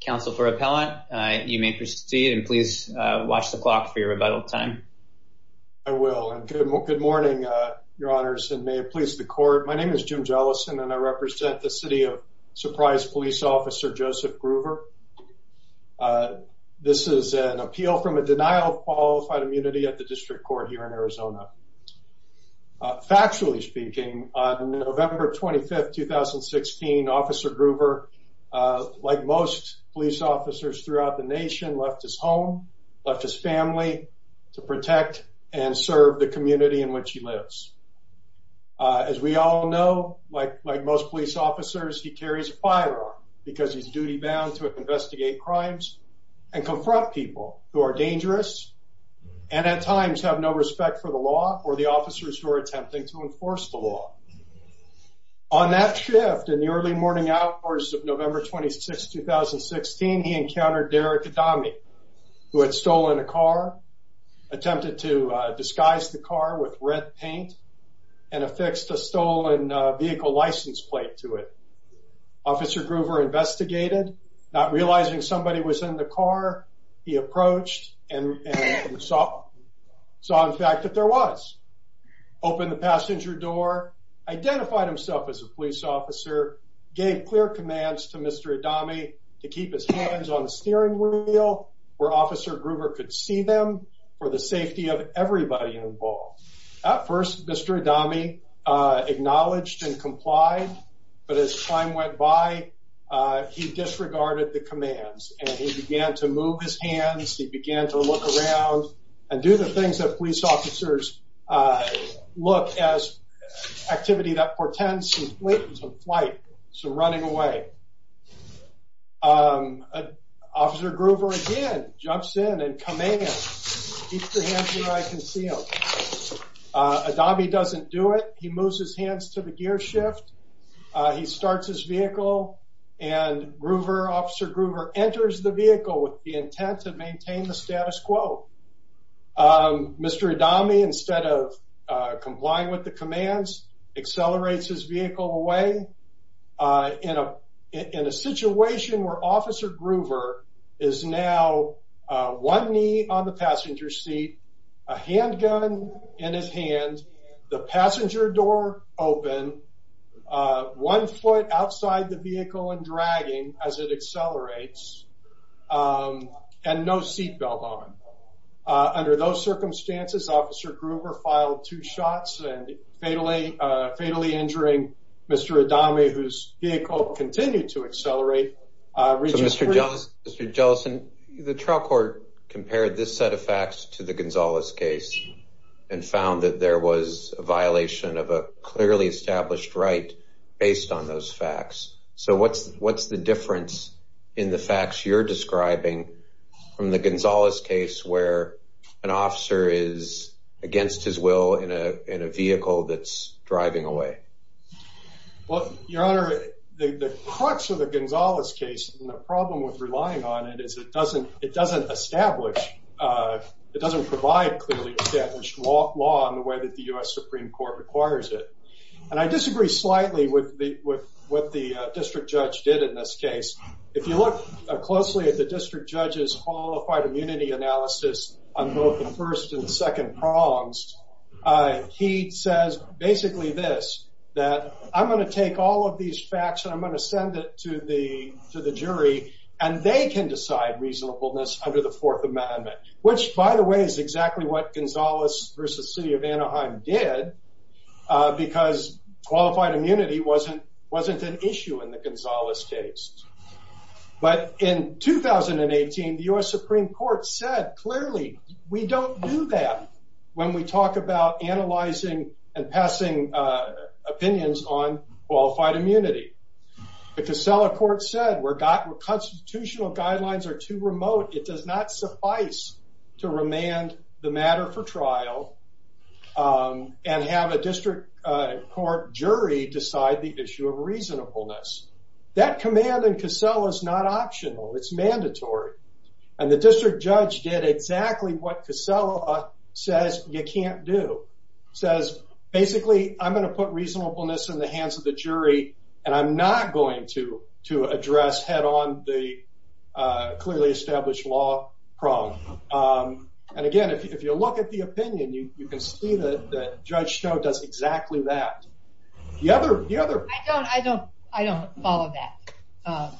Counsel for Appellant, you may proceed and please watch the clock for your rebuttal time. I will. And good morning, Your Honors, and may it please the court. My name is Jim Jellison, and I represent the City of Surprise Police Officer Joseph Gruver. This is an appeal from a denial of qualified immunity at the District Court here in Arizona. Factually speaking, on November 25th, 2016, Officer Gruver, like most police officers throughout the nation, left his home, left his family to protect and serve the community in which he lives. As we all know, like most police officers, he carries a firearm because he's duty bound to investigate crimes and confront people who are dangerous and, at times, have no respect for the law or the officers who are attempting to enforce the law. On that shift, in the early morning hours of November 26th, 2016, he encountered Derek Adame, who had stolen a car, attempted to disguise the car with red paint, and affixed a stolen vehicle license plate to it. Officer Gruver investigated. Not realizing somebody was in the car, he approached and saw in fact that there was. Opened the passenger door, identified himself as a police officer, gave clear commands to Mr. Adame to keep his hands on the steering wheel where Officer Gruver could see them for the safety of everybody involved. At first, Mr. Adame acknowledged and complied, but as time went by, he disregarded the commands and he began to move his hands. He began to look around and do the things that police officers look as activity that portends some flight, some running away. Officer Gruver again jumps in and commands, keep your hands where I can see them. Adame doesn't do it. He moves his hands to the gear shift. He starts his vehicle and Gruver, Officer Gruver, enters the vehicle with the intent to maintain the status quo. Mr. Adame, instead of complying with the commands, accelerates his vehicle away. In a situation where Officer Gruver is now one knee on the passenger seat, a handgun in his hand, the passenger door open, uh, one foot outside the vehicle and dragging as it accelerates. Um, and no seatbelt on. Under those circumstances, Officer Gruver filed two shots and fatally fatally injuring Mr. Adame, whose vehicle continued to accelerate. Mr. Johnson, the trial court compared this set of facts to the clearly established right based on those facts. So what's what's the difference in the facts you're describing from the Gonzalez case, where an officer is against his will in a vehicle that's driving away? Well, Your Honor, the crux of the Gonzalez case and the problem with relying on it is it doesn't. It doesn't establish. Uh, it doesn't provide clearly established law law in the way that the U. S. Supreme Court requires it. And I disagree slightly with what the district judge did in this case. If you look closely at the district judge's qualified immunity analysis on both the first and second prongs, uh, he says basically this that I'm going to take all of these facts and I'm going to send it to the to the jury and they can decide reasonableness under the Fourth Amendment, which, by the way, is exactly what Gonzalez versus city of Anaheim did because qualified immunity wasn't wasn't an issue in the Gonzalez case. But in 2018, the U. S. Supreme Court said, Clearly, we don't do that when we talk about analyzing and passing opinions on qualified immunity. The Casella court said we're got constitutional guidelines are too remote. It does not suffice to remand the matter for trial. Um, and have a district court jury decide the issue of reasonableness. That command and Casella is not optional. It's mandatory. And the district judge did exactly what Casella says. You can't do says basically, I'm gonna put reasonableness in the hands of the jury, and I'm not going to to address head on the clearly established law problem. Um, and again, if you look at the opinion, you can see the judge show does exactly that. The other I don't I don't I don't follow that. Uh,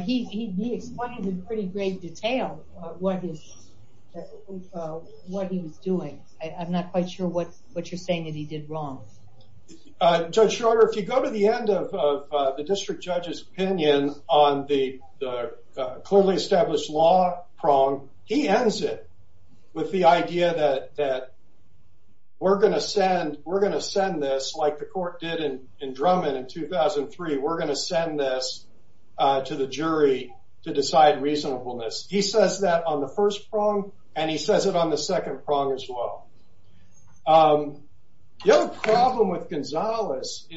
he explained in pretty great detail what is what he was doing. I'm not quite sure what you're wrong. Judge shorter. If you go to the end of the district judge's opinion on the clearly established law prong, he ends it with the idea that that we're gonna send. We're gonna send this like the court did in in Drummond in 2003. We're gonna send this to the jury to decide reasonableness. He says that on the first prong, and he says it on the second prong as well. Um, the other problem with Gonzalez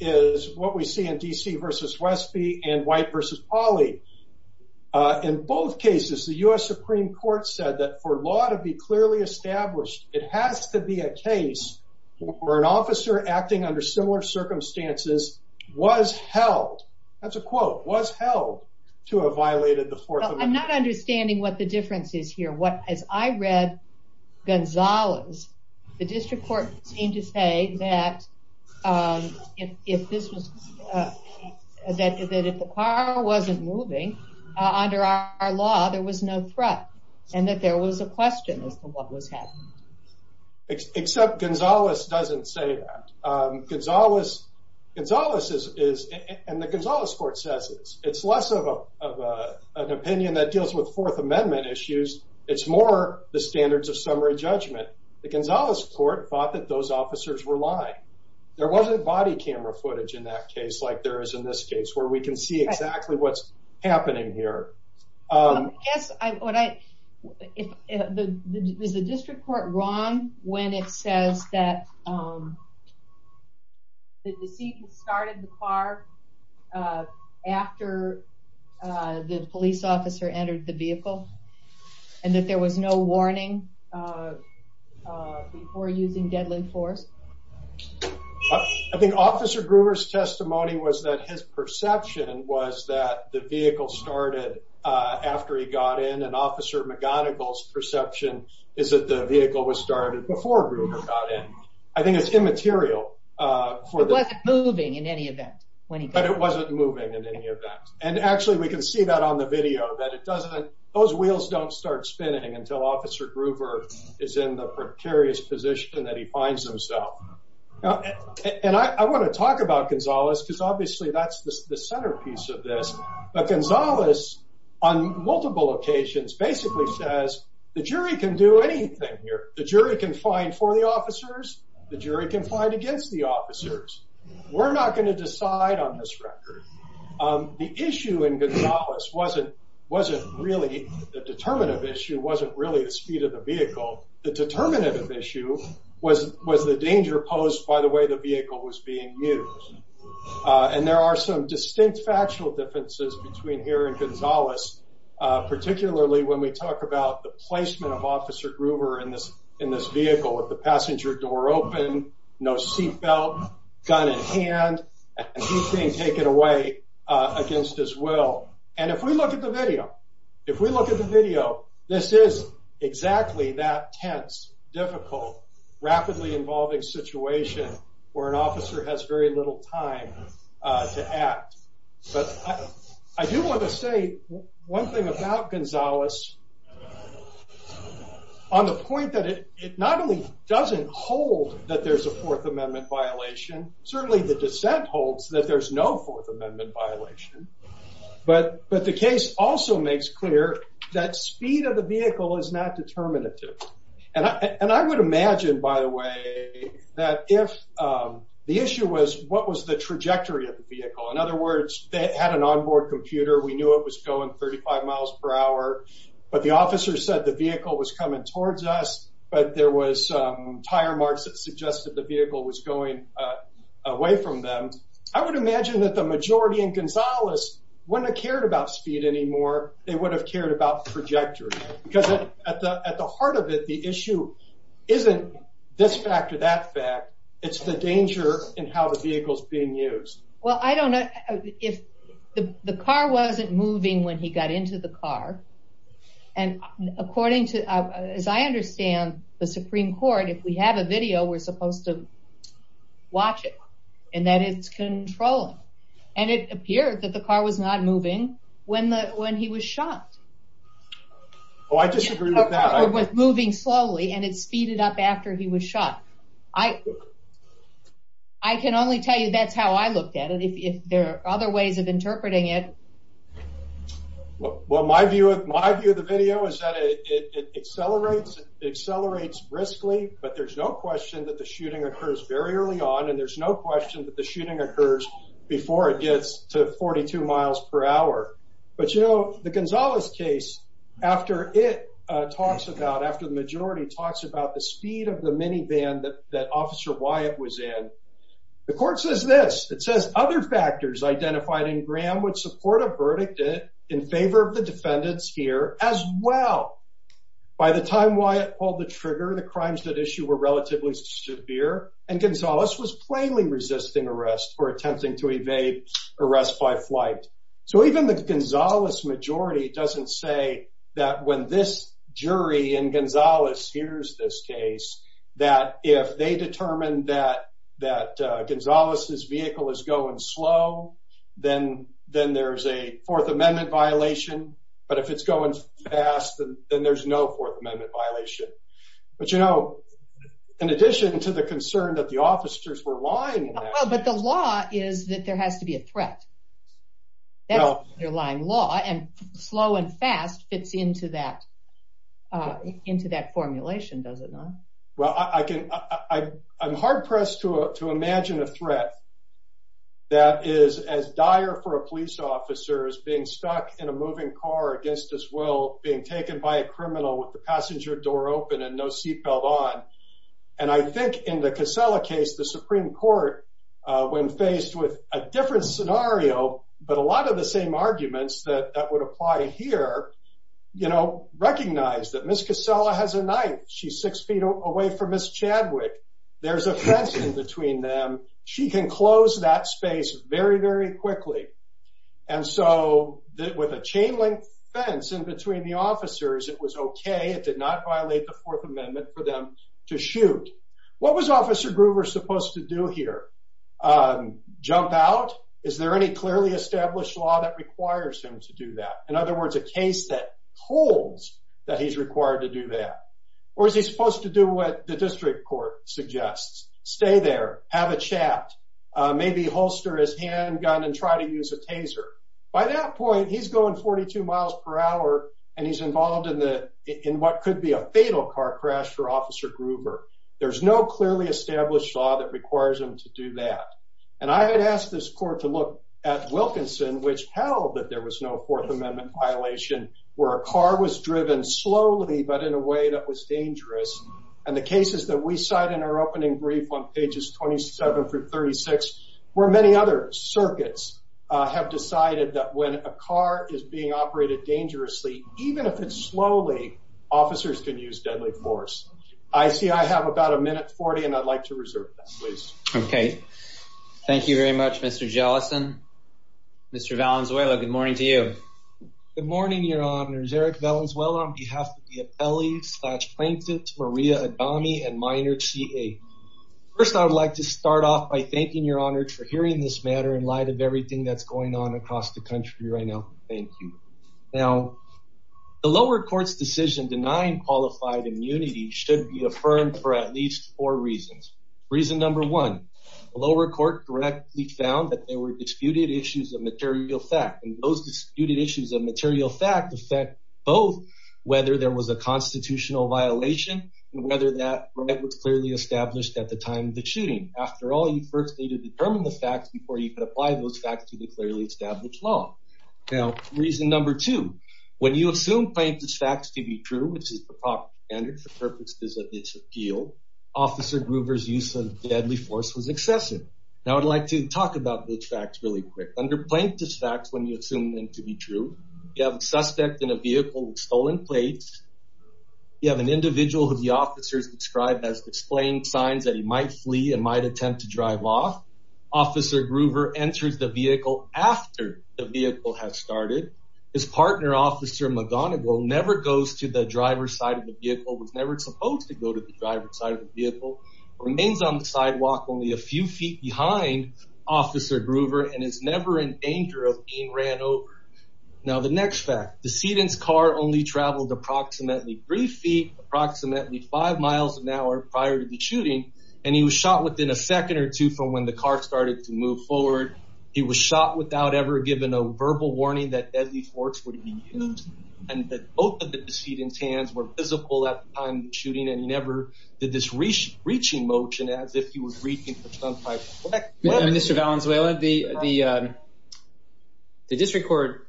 is what we see in D. C. Versus Westby and white versus Polly. Uh, in both cases, the U. S. Supreme Court said that for law to be clearly established, it has to be a case where an officer acting under similar circumstances was held. That's a quote was held to have violated the differences here. What? As I read Gonzalez, the district court seemed to say that, um, if this was, uh, that that if the car wasn't moving under our law, there was no threat and that there was a question of what was happening, except Gonzalez doesn't say that. Um, it's always it's always is and the Gonzalez court says it's less of a opinion that deals with Fourth Amendment issues. It's more the standards of summary judgment. The Gonzalez court thought that those officers were lying. There wasn't body camera footage in that case, like there is in this case where we can see exactly what's happening here. Um, yes, I would. I if the district court wrong when it says that, um, the deceit started the car, uh, after, uh, the police officer entered the vehicle and that there was no warning, uh, before using deadly force. I think Officer Gruber's testimony was that his perception was that the vehicle started after he got in. And Officer McGonigal's perception is that the vehicle was moving in any event, but it wasn't moving in any event. And actually, we could see that on the video that it doesn't. Those wheels don't start spinning until Officer Gruber is in the precarious position that he finds himself. And I want to talk about Gonzalez because obviously that's the centerpiece of this. But Gonzalez on multiple occasions basically says the jury can do anything here. The jury can find for the officers. The jury can find against the officers. We're not going to decide on this record. Um, the issue in Gonzalez wasn't wasn't really the determinative issue wasn't really the speed of the vehicle. The determinative issue was was the danger posed by the way the vehicle was being used. And there are some distinct factual differences between here and Gonzalez, particularly when we talk about the placement of Officer Gruber in this in this vehicle with the seatbelt gun in hand. He's being taken away against his will. And if we look at the video, if we look at the video, this is exactly that tense, difficult, rapidly involving situation where an officer has very little time to act. But I do want to say one thing about Gonzalez on the point that it not only doesn't hold that there's a Fourth Amendment violation, certainly the dissent holds that there's no Fourth Amendment violation. But but the case also makes clear that speed of the vehicle is not determinative. And I would imagine, by the way, that if the issue was what was the trajectory of the vehicle? In other words, they had an onboard computer. We knew it was going 35 miles per hour. But the officer said the vehicle was coming towards us. But there was tire marks that suggested the vehicle was going away from them. I would imagine that the majority in Gonzalez wouldn't have cared about speed anymore. They would have cared about trajectory because at the heart of it, the issue isn't this fact or that fact. It's the moving when he got into the car. And according to, as I understand, the Supreme Court, if we have a video, we're supposed to watch it and that it's controlling. And it appeared that the car was not moving when the when he was shot. Oh, I disagree with that. It was moving slowly and it speeded up after he was shot. I can only tell you that's how I looked at it. If there are other ways of interpreting it. Well, my view of my view of the video is that it accelerates, accelerates briskly. But there's no question that the shooting occurs very early on, and there's no question that the shooting occurs before it gets to 42 miles per hour. But, you know, the Gonzalez case after it talks about after the majority talks about the speed of the minivan that Officer Wyatt was in, the court says this. It says other factors identified in Graham would support a verdict in favor of the defendants here as well. By the time Wyatt called the trigger, the crimes that issue were relatively severe, and Gonzalez was plainly resisting arrest for attempting to evade arrest by flight. So even the Gonzalez majority doesn't say that when this jury in Gonzalez hears this case that if they determined that that Gonzalez's vehicle is going slow, then then there's a Fourth Amendment violation. But if it's going fast, then there's no Fourth Amendment violation. But, you know, in addition to the concern that the officers were lying, but the law is that there has to be a threat. Now you're lying law and slow and fast fits into that, uh, into that formulation, does it not? Well, I can. I'm hard pressed to imagine a threat that is as dire for a police officer is being stuck in a moving car against his will, being taken by a criminal with the passenger door open and no seatbelt on. And I think in the Casella case, the Supreme Court, when faced with a different scenario, but a lot of the same arguments that would apply here, you know, recognize that Miss Casella has a knife. She's 6 ft away from Miss Chadwick. There's a fence in between them. She can close that space very, very quickly. And so with a chain link fence in between the officers, it was okay. It did not violate the Fourth Amendment for them to shoot. What was Officer Gruber supposed to do here? Um, jump out. Is there any clearly established law that requires him to do that? In other words, a case that holds that he's required to do that? Or is he supposed to do what the district court suggests? Stay there, have a chat, maybe holster his hand gun and try to use a taser. By that point, he's going 42 miles per hour, and he's involved in the in what could be a fatal car crash for Officer Gruber. There's no clearly established law that requires him to do that. And I had asked this court to at Wilkinson, which held that there was no Fourth Amendment violation where a car was driven slowly but in a way that was dangerous. And the cases that we cite in our opening brief on pages 27 through 36, where many other circuits have decided that when a car is being operated dangerously, even if it's slowly, officers could use deadly force. I see I have about a minute 40, and I'd like to reserve that, please. Okay, thank you very much, Mr. Jellison. Mr. Valenzuela, good morning to you. Good morning, Your Honors. Eric Valenzuela on behalf of the appellee slash plaintiff Maria Adami and minor CA. First, I would like to start off by thanking Your Honors for hearing this matter in light of everything that's going on across the country right now. Thank you. Now, the lower court's decision denying qualified immunity should be affirmed for at least four reasons. Reason number one, the lower court directly found that there were disputed issues of material fact. And those disputed issues of material fact affect both whether there was a constitutional violation and whether that right was clearly established at the time of the shooting. After all, you first need to determine the facts before you can apply those facts to the clearly established law. Now, reason number two, when you assume plaintiff's facts to be true, which is the proper standard for purposes of this appeal, Officer Groover's use of deadly force was excessive. Now, I'd like to talk about those facts really quick. Under plaintiff's facts, when you assume them to be true, you have a suspect in a vehicle with stolen plates. You have an individual who the officers described as displaying signs that he might flee and might attempt to drive off. Officer Groover enters the vehicle after the driver's side of the vehicle, was never supposed to go to the driver's side of the vehicle, remains on the sidewalk only a few feet behind Officer Groover, and is never in danger of being ran over. Now, the next fact, decedent's car only traveled approximately three feet, approximately five miles an hour prior to the shooting, and he was shot within a second or two from when the car started to move forward. He was shot without ever giving a verbal warning that deadly heat and tans were visible at the time of the shooting, and he never did this reaching motion as if he was reaching for some type of weapon. Mr. Valenzuela, the district court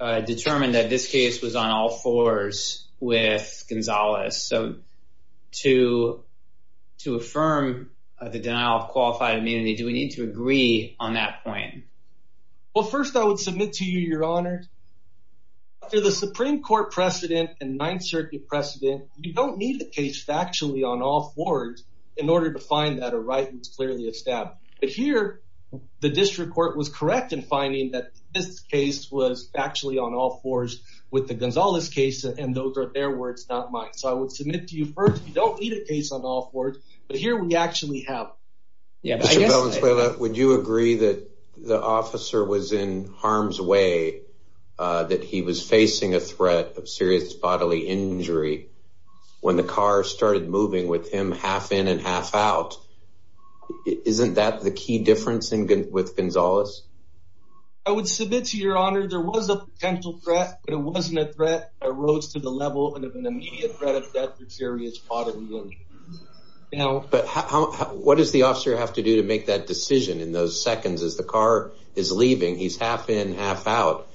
determined that this case was on all fours with Gonzalez. So, to affirm the denial of qualified immunity, do we need to agree on that point? Well, first, I would submit to you, Your Honor, after the Supreme Court precedent and Ninth Circuit precedent, you don't need the case factually on all fours in order to find that a right was clearly established. But here, the district court was correct in finding that this case was factually on all fours with the Gonzalez case, and those are their words, not mine. So, I would submit to you first, you don't need a case on all fours, but here we actually have. Mr. Valenzuela, would you agree that the officer was in harm's way, that he was a threat of serious bodily injury when the car started moving with him half in and half out? Isn't that the key difference with Gonzalez? I would submit to you, Your Honor, there was a potential threat, but it wasn't a threat. I rose to the level of an immediate threat of death with serious bodily injury. But what does the officer have to do to make that decision in those seconds as the car is leaving? He's half in, half out.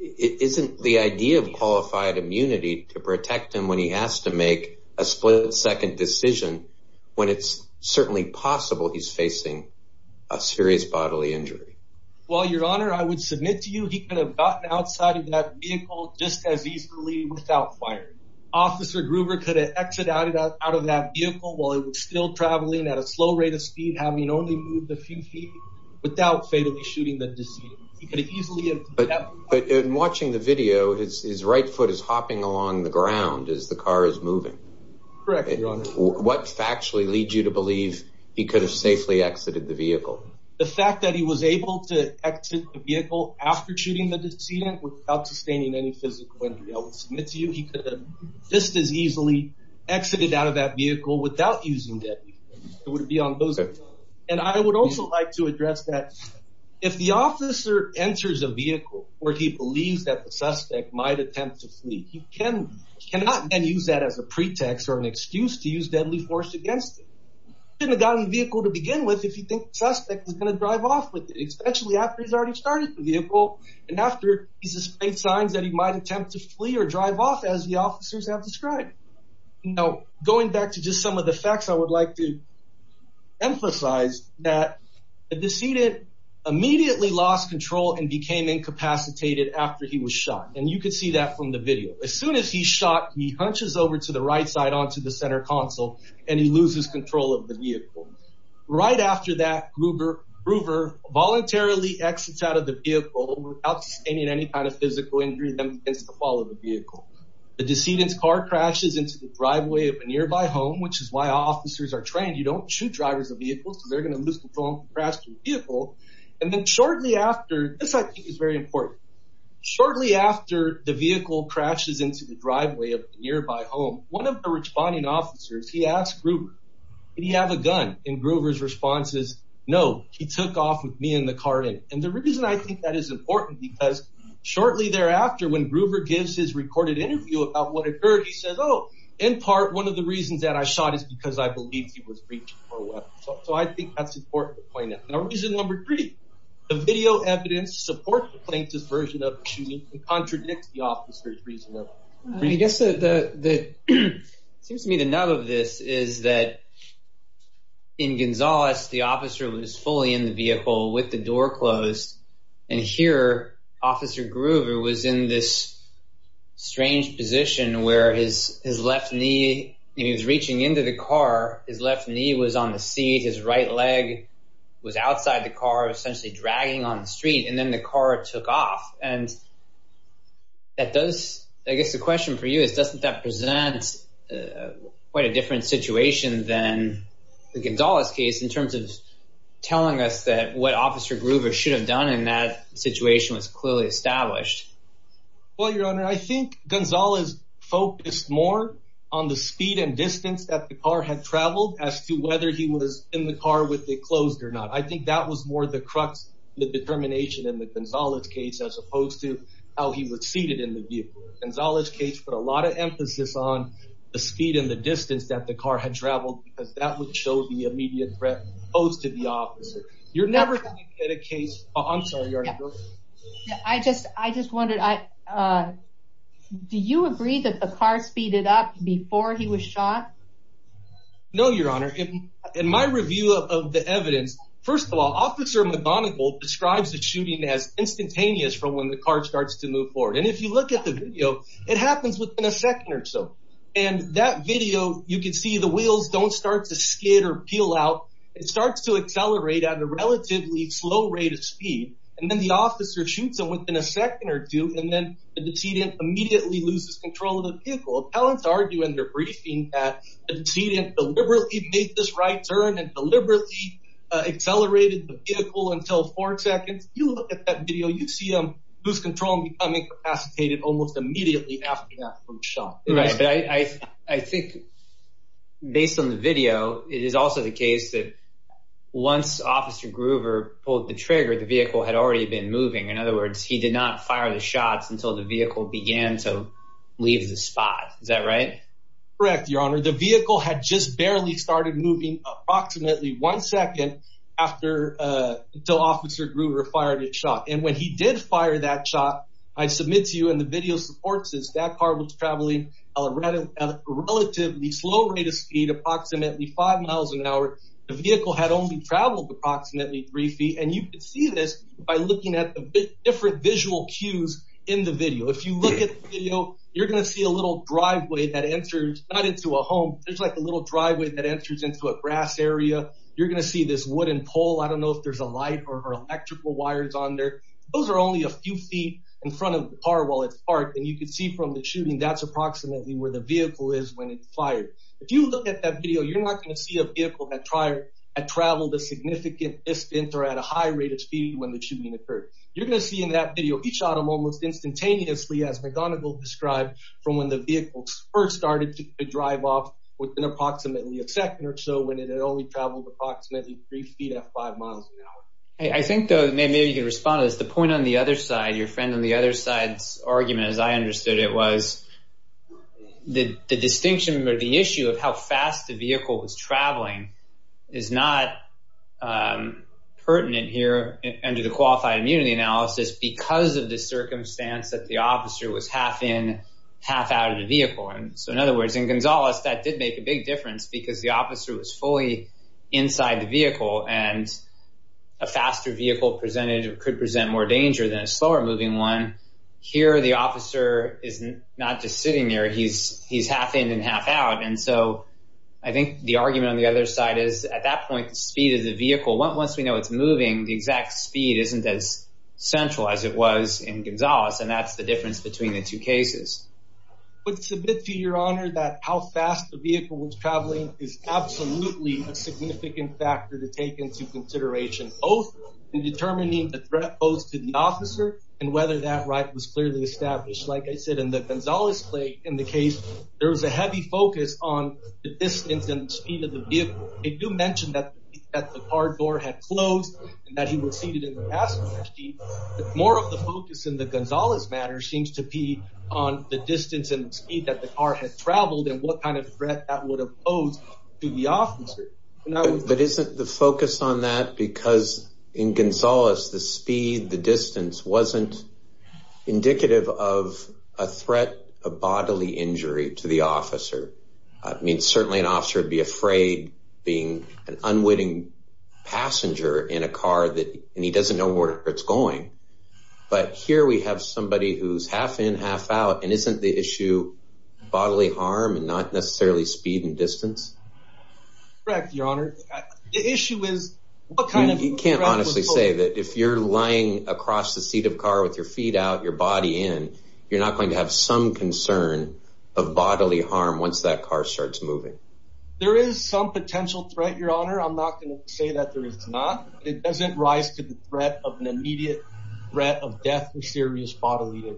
Isn't the idea of qualified immunity to protect him when he has to make a split-second decision, when it's certainly possible he's facing a serious bodily injury? Well, Your Honor, I would submit to you he could have gotten outside of that vehicle just as easily without fire. Officer Gruber could have exited out of that vehicle while it was still traveling at a slow rate of speed, having only moved a few feet, without fatally shooting the decedent. He could have easily... But in watching the video, his right foot is hopping along the ground as the car is moving. Correct, Your Honor. What factually leads you to believe he could have safely exited the vehicle? The fact that he was able to exit the vehicle after shooting the decedent without sustaining any physical injury, I would submit to you he could have just as easily exited out of that vehicle without using that vehicle. It would be on those... And I would also like to address that if the officer enters a vehicle where he believes that the suspect might attempt to flee, he cannot then use that as a pretext or an excuse to use deadly force against him. He shouldn't have gotten the vehicle to begin with if he thinks the suspect is going to drive off with it, especially after he's already started the vehicle and after he's displayed signs that he might attempt to flee or drive off, as the officers have described. Now, going back to just some of the facts, I would like to emphasize that the decedent immediately lost control and became incapacitated after he was shot. And you could see that from the video. As soon as he's shot, he hunches over to the right side onto the center console and he loses control of the vehicle. Right after that, Gruber voluntarily exits out of the vehicle without sustaining any kind of physical injury that would be against the fall of the vehicle. He crashes into the driveway of a nearby home, which is why officers are trained, you don't shoot drivers of vehicles, so they're going to lose control and crash their vehicle. And then shortly after, this I think is very important. Shortly after the vehicle crashes into the driveway of a nearby home, one of the responding officers, he asked Gruber, did he have a gun? And Gruber's response is, no, he took off with me and the car in it. And the reason I think that is important because shortly thereafter, when Gruber gives his In part, one of the reasons that I shot is because I believe he was reaching for a weapon. So I think that's important to point out. Now, reason number three, the video evidence supports the plaintiff's version of the shooting and contradicts the officer's reason. I guess it seems to me the nub of this is that in Gonzales, the officer was fully in the vehicle with the door closed. And here, Officer Gruber was in this strange position where his left knee, he was reaching into the car, his left knee was on the seat, his right leg was outside the car, essentially dragging on the street, and then the car took off. And that does, I guess the question for you is, doesn't that present quite a different situation than the Gonzales case in terms of telling us that what Officer Gruber should have done in that Well, Your Honor, I think Gonzales focused more on the speed and distance that the car had traveled as to whether he was in the car with it closed or not. I think that was more the crux, the determination in the Gonzales case, as opposed to how he was seated in the vehicle. Gonzales case put a lot of emphasis on the speed and the distance that the car had traveled because that would show the immediate threat posed to the officer. You're never going to get a I just, I just wondered, do you agree that the car speeded up before he was shot? No, Your Honor. In my review of the evidence, first of all, Officer McGonigal describes the shooting as instantaneous from when the car starts to move forward. And if you look at the video, it happens within a second or so. And that video, you can see the wheels don't start to skid or peel out. It officer shoots them within a second or two, and then the decedent immediately loses control of the vehicle. Appellants argue in their briefing that the decedent deliberately made this right turn and deliberately accelerated the vehicle until four seconds. You look at that video, you see him lose control and become incapacitated almost immediately after that first shot. Right. But I think based on the video, it is also the case that once Officer Gruver pulled the trigger, the vehicle had already been moving. In other words, he did not fire the shots until the vehicle began to leave the spot. Is that right? Correct, Your Honor. The vehicle had just barely started moving approximately one second after, uh, until Officer Gruver fired his shot. And when he did fire that shot, I submit to you in the video supports is that car was traveling a relatively slow rate of speed, approximately five miles an hour. The vehicle had only traveled approximately three feet, and you could see this by looking at the different visual cues in the video. If you look at the video, you're gonna see a little driveway that answers not into a home. There's like a little driveway that answers into a grass area. You're gonna see this wooden pole. I don't know if there's a light or electrical wires on there. Those are only a few feet in front of the car while it's parked, and you could see from the shooting that's approximately where the vehicle is when fired. If you look at that video, you're not gonna see a vehicle that tried and traveled a significant distance or at a high rate of speed. When the shooting occurred, you're gonna see in that video, he shot him almost instantaneously, as McGonigal described, from when the vehicle first started to drive off within approximately a second or so when it had only traveled approximately three feet at five miles an hour. I think, though, maybe you could respond to this. The point on the other side, your friend on the other side's argument, as I understood it, was the distinction or the issue of how fast the vehicle was traveling is not pertinent here under the Qualified Immunity Analysis because of the circumstance that the officer was half in, half out of the vehicle. In other words, in Gonzales, that did make a big difference because the officer was fully inside the vehicle, and a faster vehicle could present more danger than a slower moving one. Here, the officer is not just sitting there. He's half in and half out. And so I think the argument on the other side is, at that point, the speed of the vehicle, once we know it's moving, the exact speed isn't as central as it was in Gonzales, and that's the difference between the two cases. It's a bit to your honor that how fast the vehicle was traveling is absolutely a significant factor to take into consideration, both in determining the threat posed to the officer and whether that right was clearly established. Like I said, in the Gonzales case, there was a heavy focus on the distance and speed of the vehicle. They do mention that the car door had closed and that he was seated in the passenger seat, but more of the focus in the Gonzales matter seems to be on the distance and speed that the car had traveled and what kind of threat that would have posed to the That's because in Gonzales, the speed, the distance wasn't indicative of a threat, a bodily injury to the officer. I mean, certainly an officer would be afraid being an unwitting passenger in a car that he doesn't know where it's going. But here we have somebody who's half in, half out. And isn't the issue bodily harm and not necessarily speed and distance? Correct, your honor. The issue is what kind of you can't honestly say that if you're lying across the seat of car with your feet out your body in, you're not going to have some concern of bodily harm once that car starts moving. There is some potential threat, your honor. I'm not going to say that there is not. It doesn't rise to the threat of an immediate threat of death or serious bodily.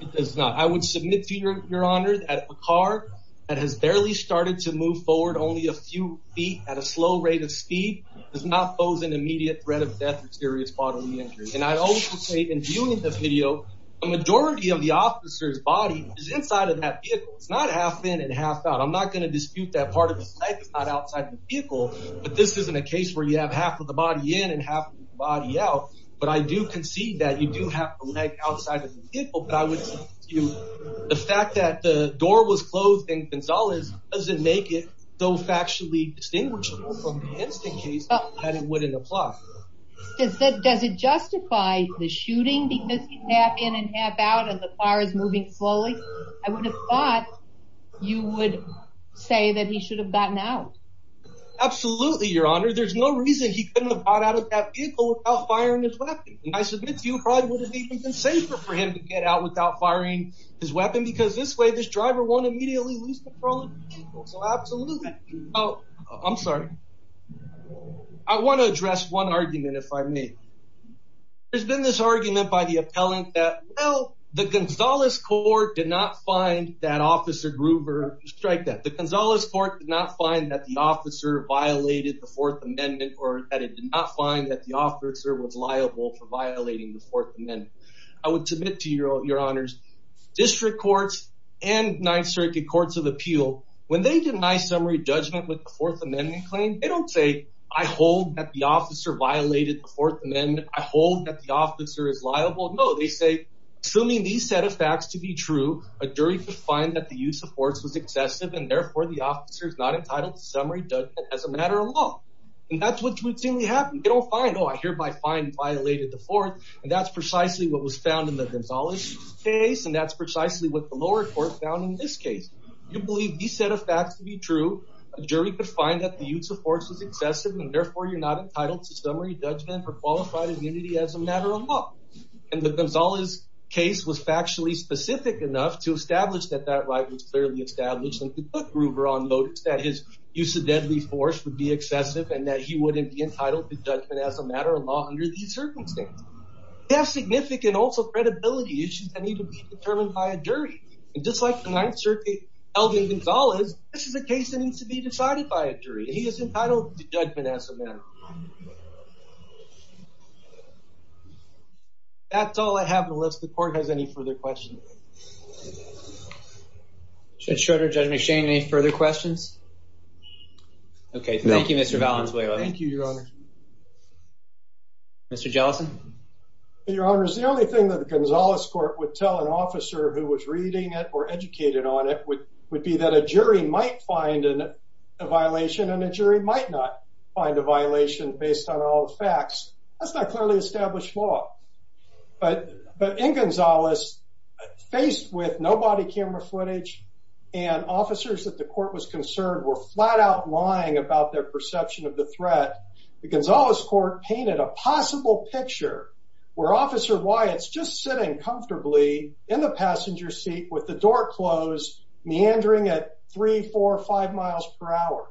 It does not. I would submit to your honor at a car that has barely started to move forward only a few feet at a slow rate of speed does not pose an immediate threat of death or serious bodily injury. And I always say in viewing the video, the majority of the officer's body is inside of that vehicle. It's not half in and half out. I'm not going to dispute that part of the leg is not outside the vehicle. But this isn't a case where you have half of the body in and half body out. But I do concede that you do have a leg outside of the vehicle. But I would say to you, the fact that the door was closed in Gonzalez doesn't make it so factually distinguishable from the instant case that it wouldn't apply. Does that does it justify the shooting? Because half in and half out of the fire is moving slowly. I would have thought you would say that he should have gotten out. Absolutely, your honor. There's no reason he couldn't have got out of that vehicle without firing his weapon. I submit to you probably would have even been safer for him to get out without probably. So absolutely. Oh, I'm sorry. I want to address one argument if I may. There's been this argument by the appellant that well, the Gonzales court did not find that officer Gruber strike that the Gonzales court did not find that the officer violated the Fourth Amendment or that it did not find that the officer was liable for violating the Fourth Amendment. I would submit to you when they deny summary judgment with the Fourth Amendment claim, they don't say, I hold that the officer violated the Fourth Amendment. I hold that the officer is liable. No, they say, assuming these set of facts to be true, a jury could find that the use of force was excessive and therefore the officer is not entitled to summary judgment as a matter of law. And that's what routinely happened. They don't find, oh, I hear by fine violated the fourth. And that's precisely what was found in the Gonzalez case. And that's assuming these set of facts to be true, a jury could find that the use of force was excessive and therefore you're not entitled to summary judgment for qualified immunity as a matter of law. And the Gonzalez case was factually specific enough to establish that that right was clearly established and put Gruber on notice that his use of deadly force would be excessive and that he wouldn't be entitled to judgment as a matter of law under these circumstances. Gonzalez, this is a case that needs to be decided by a jury. He is entitled to judgment as a matter. That's all I have on the list. If the court has any further questions. Judge Schroeder, Judge McShane, any further questions? Okay, thank you Mr. Valenzuela. Thank you, Your Honor. Mr. Jellison. Your Honor, is the only thing that the Gonzalez court would tell an officer who was reading it or educated on it would be that a jury might find a violation and a jury might not find a violation based on all the facts. That's not clearly established law. But in Gonzalez, faced with no body camera footage and officers that the court was concerned were flat-out lying about their perception of the threat, the Gonzalez court painted a possible picture where Officer Wyatt's just sitting comfortably in the passenger seat with the door closed, meandering at three, four, five miles per hour.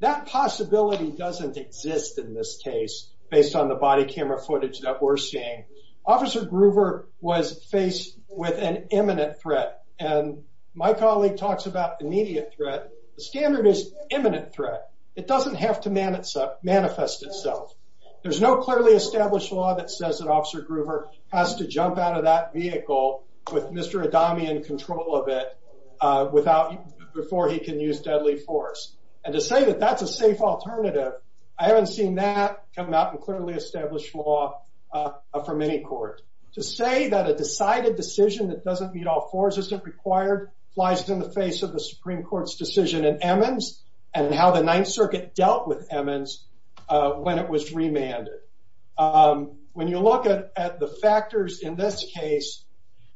That possibility doesn't exist in this case based on the body camera footage that we're seeing. Officer Groover was faced with an imminent threat and my colleague talks about immediate threat. The standard is imminent threat. It doesn't have to manifest itself. There's no clearly established law that says that Officer Groover has to jump out of that vehicle with Mr. Adami in control of it before he can use deadly force. And to say that that's a safe alternative, I haven't seen that come out in clearly established law from any court. To say that a decided decision that doesn't meet all fours isn't required flies in the face of the Supreme Court's decision in Emmons and how the Ninth Circuit dealt with Emmons when it was remanded. When you look at the factors in this case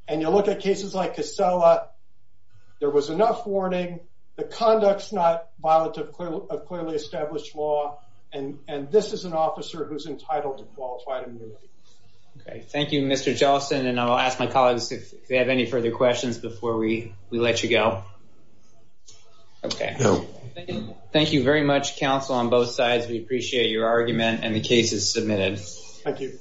and you look at cases like Casella, there was enough warning, the conduct's not violent of clearly established law, and this is an officer who's entitled to qualified immunity. Okay, thank you Mr. Johnson and I'll ask my colleagues if they have any further questions before we we let you go. Okay, thank you very much counsel on we appreciate your argument and the cases submitted. Thank you.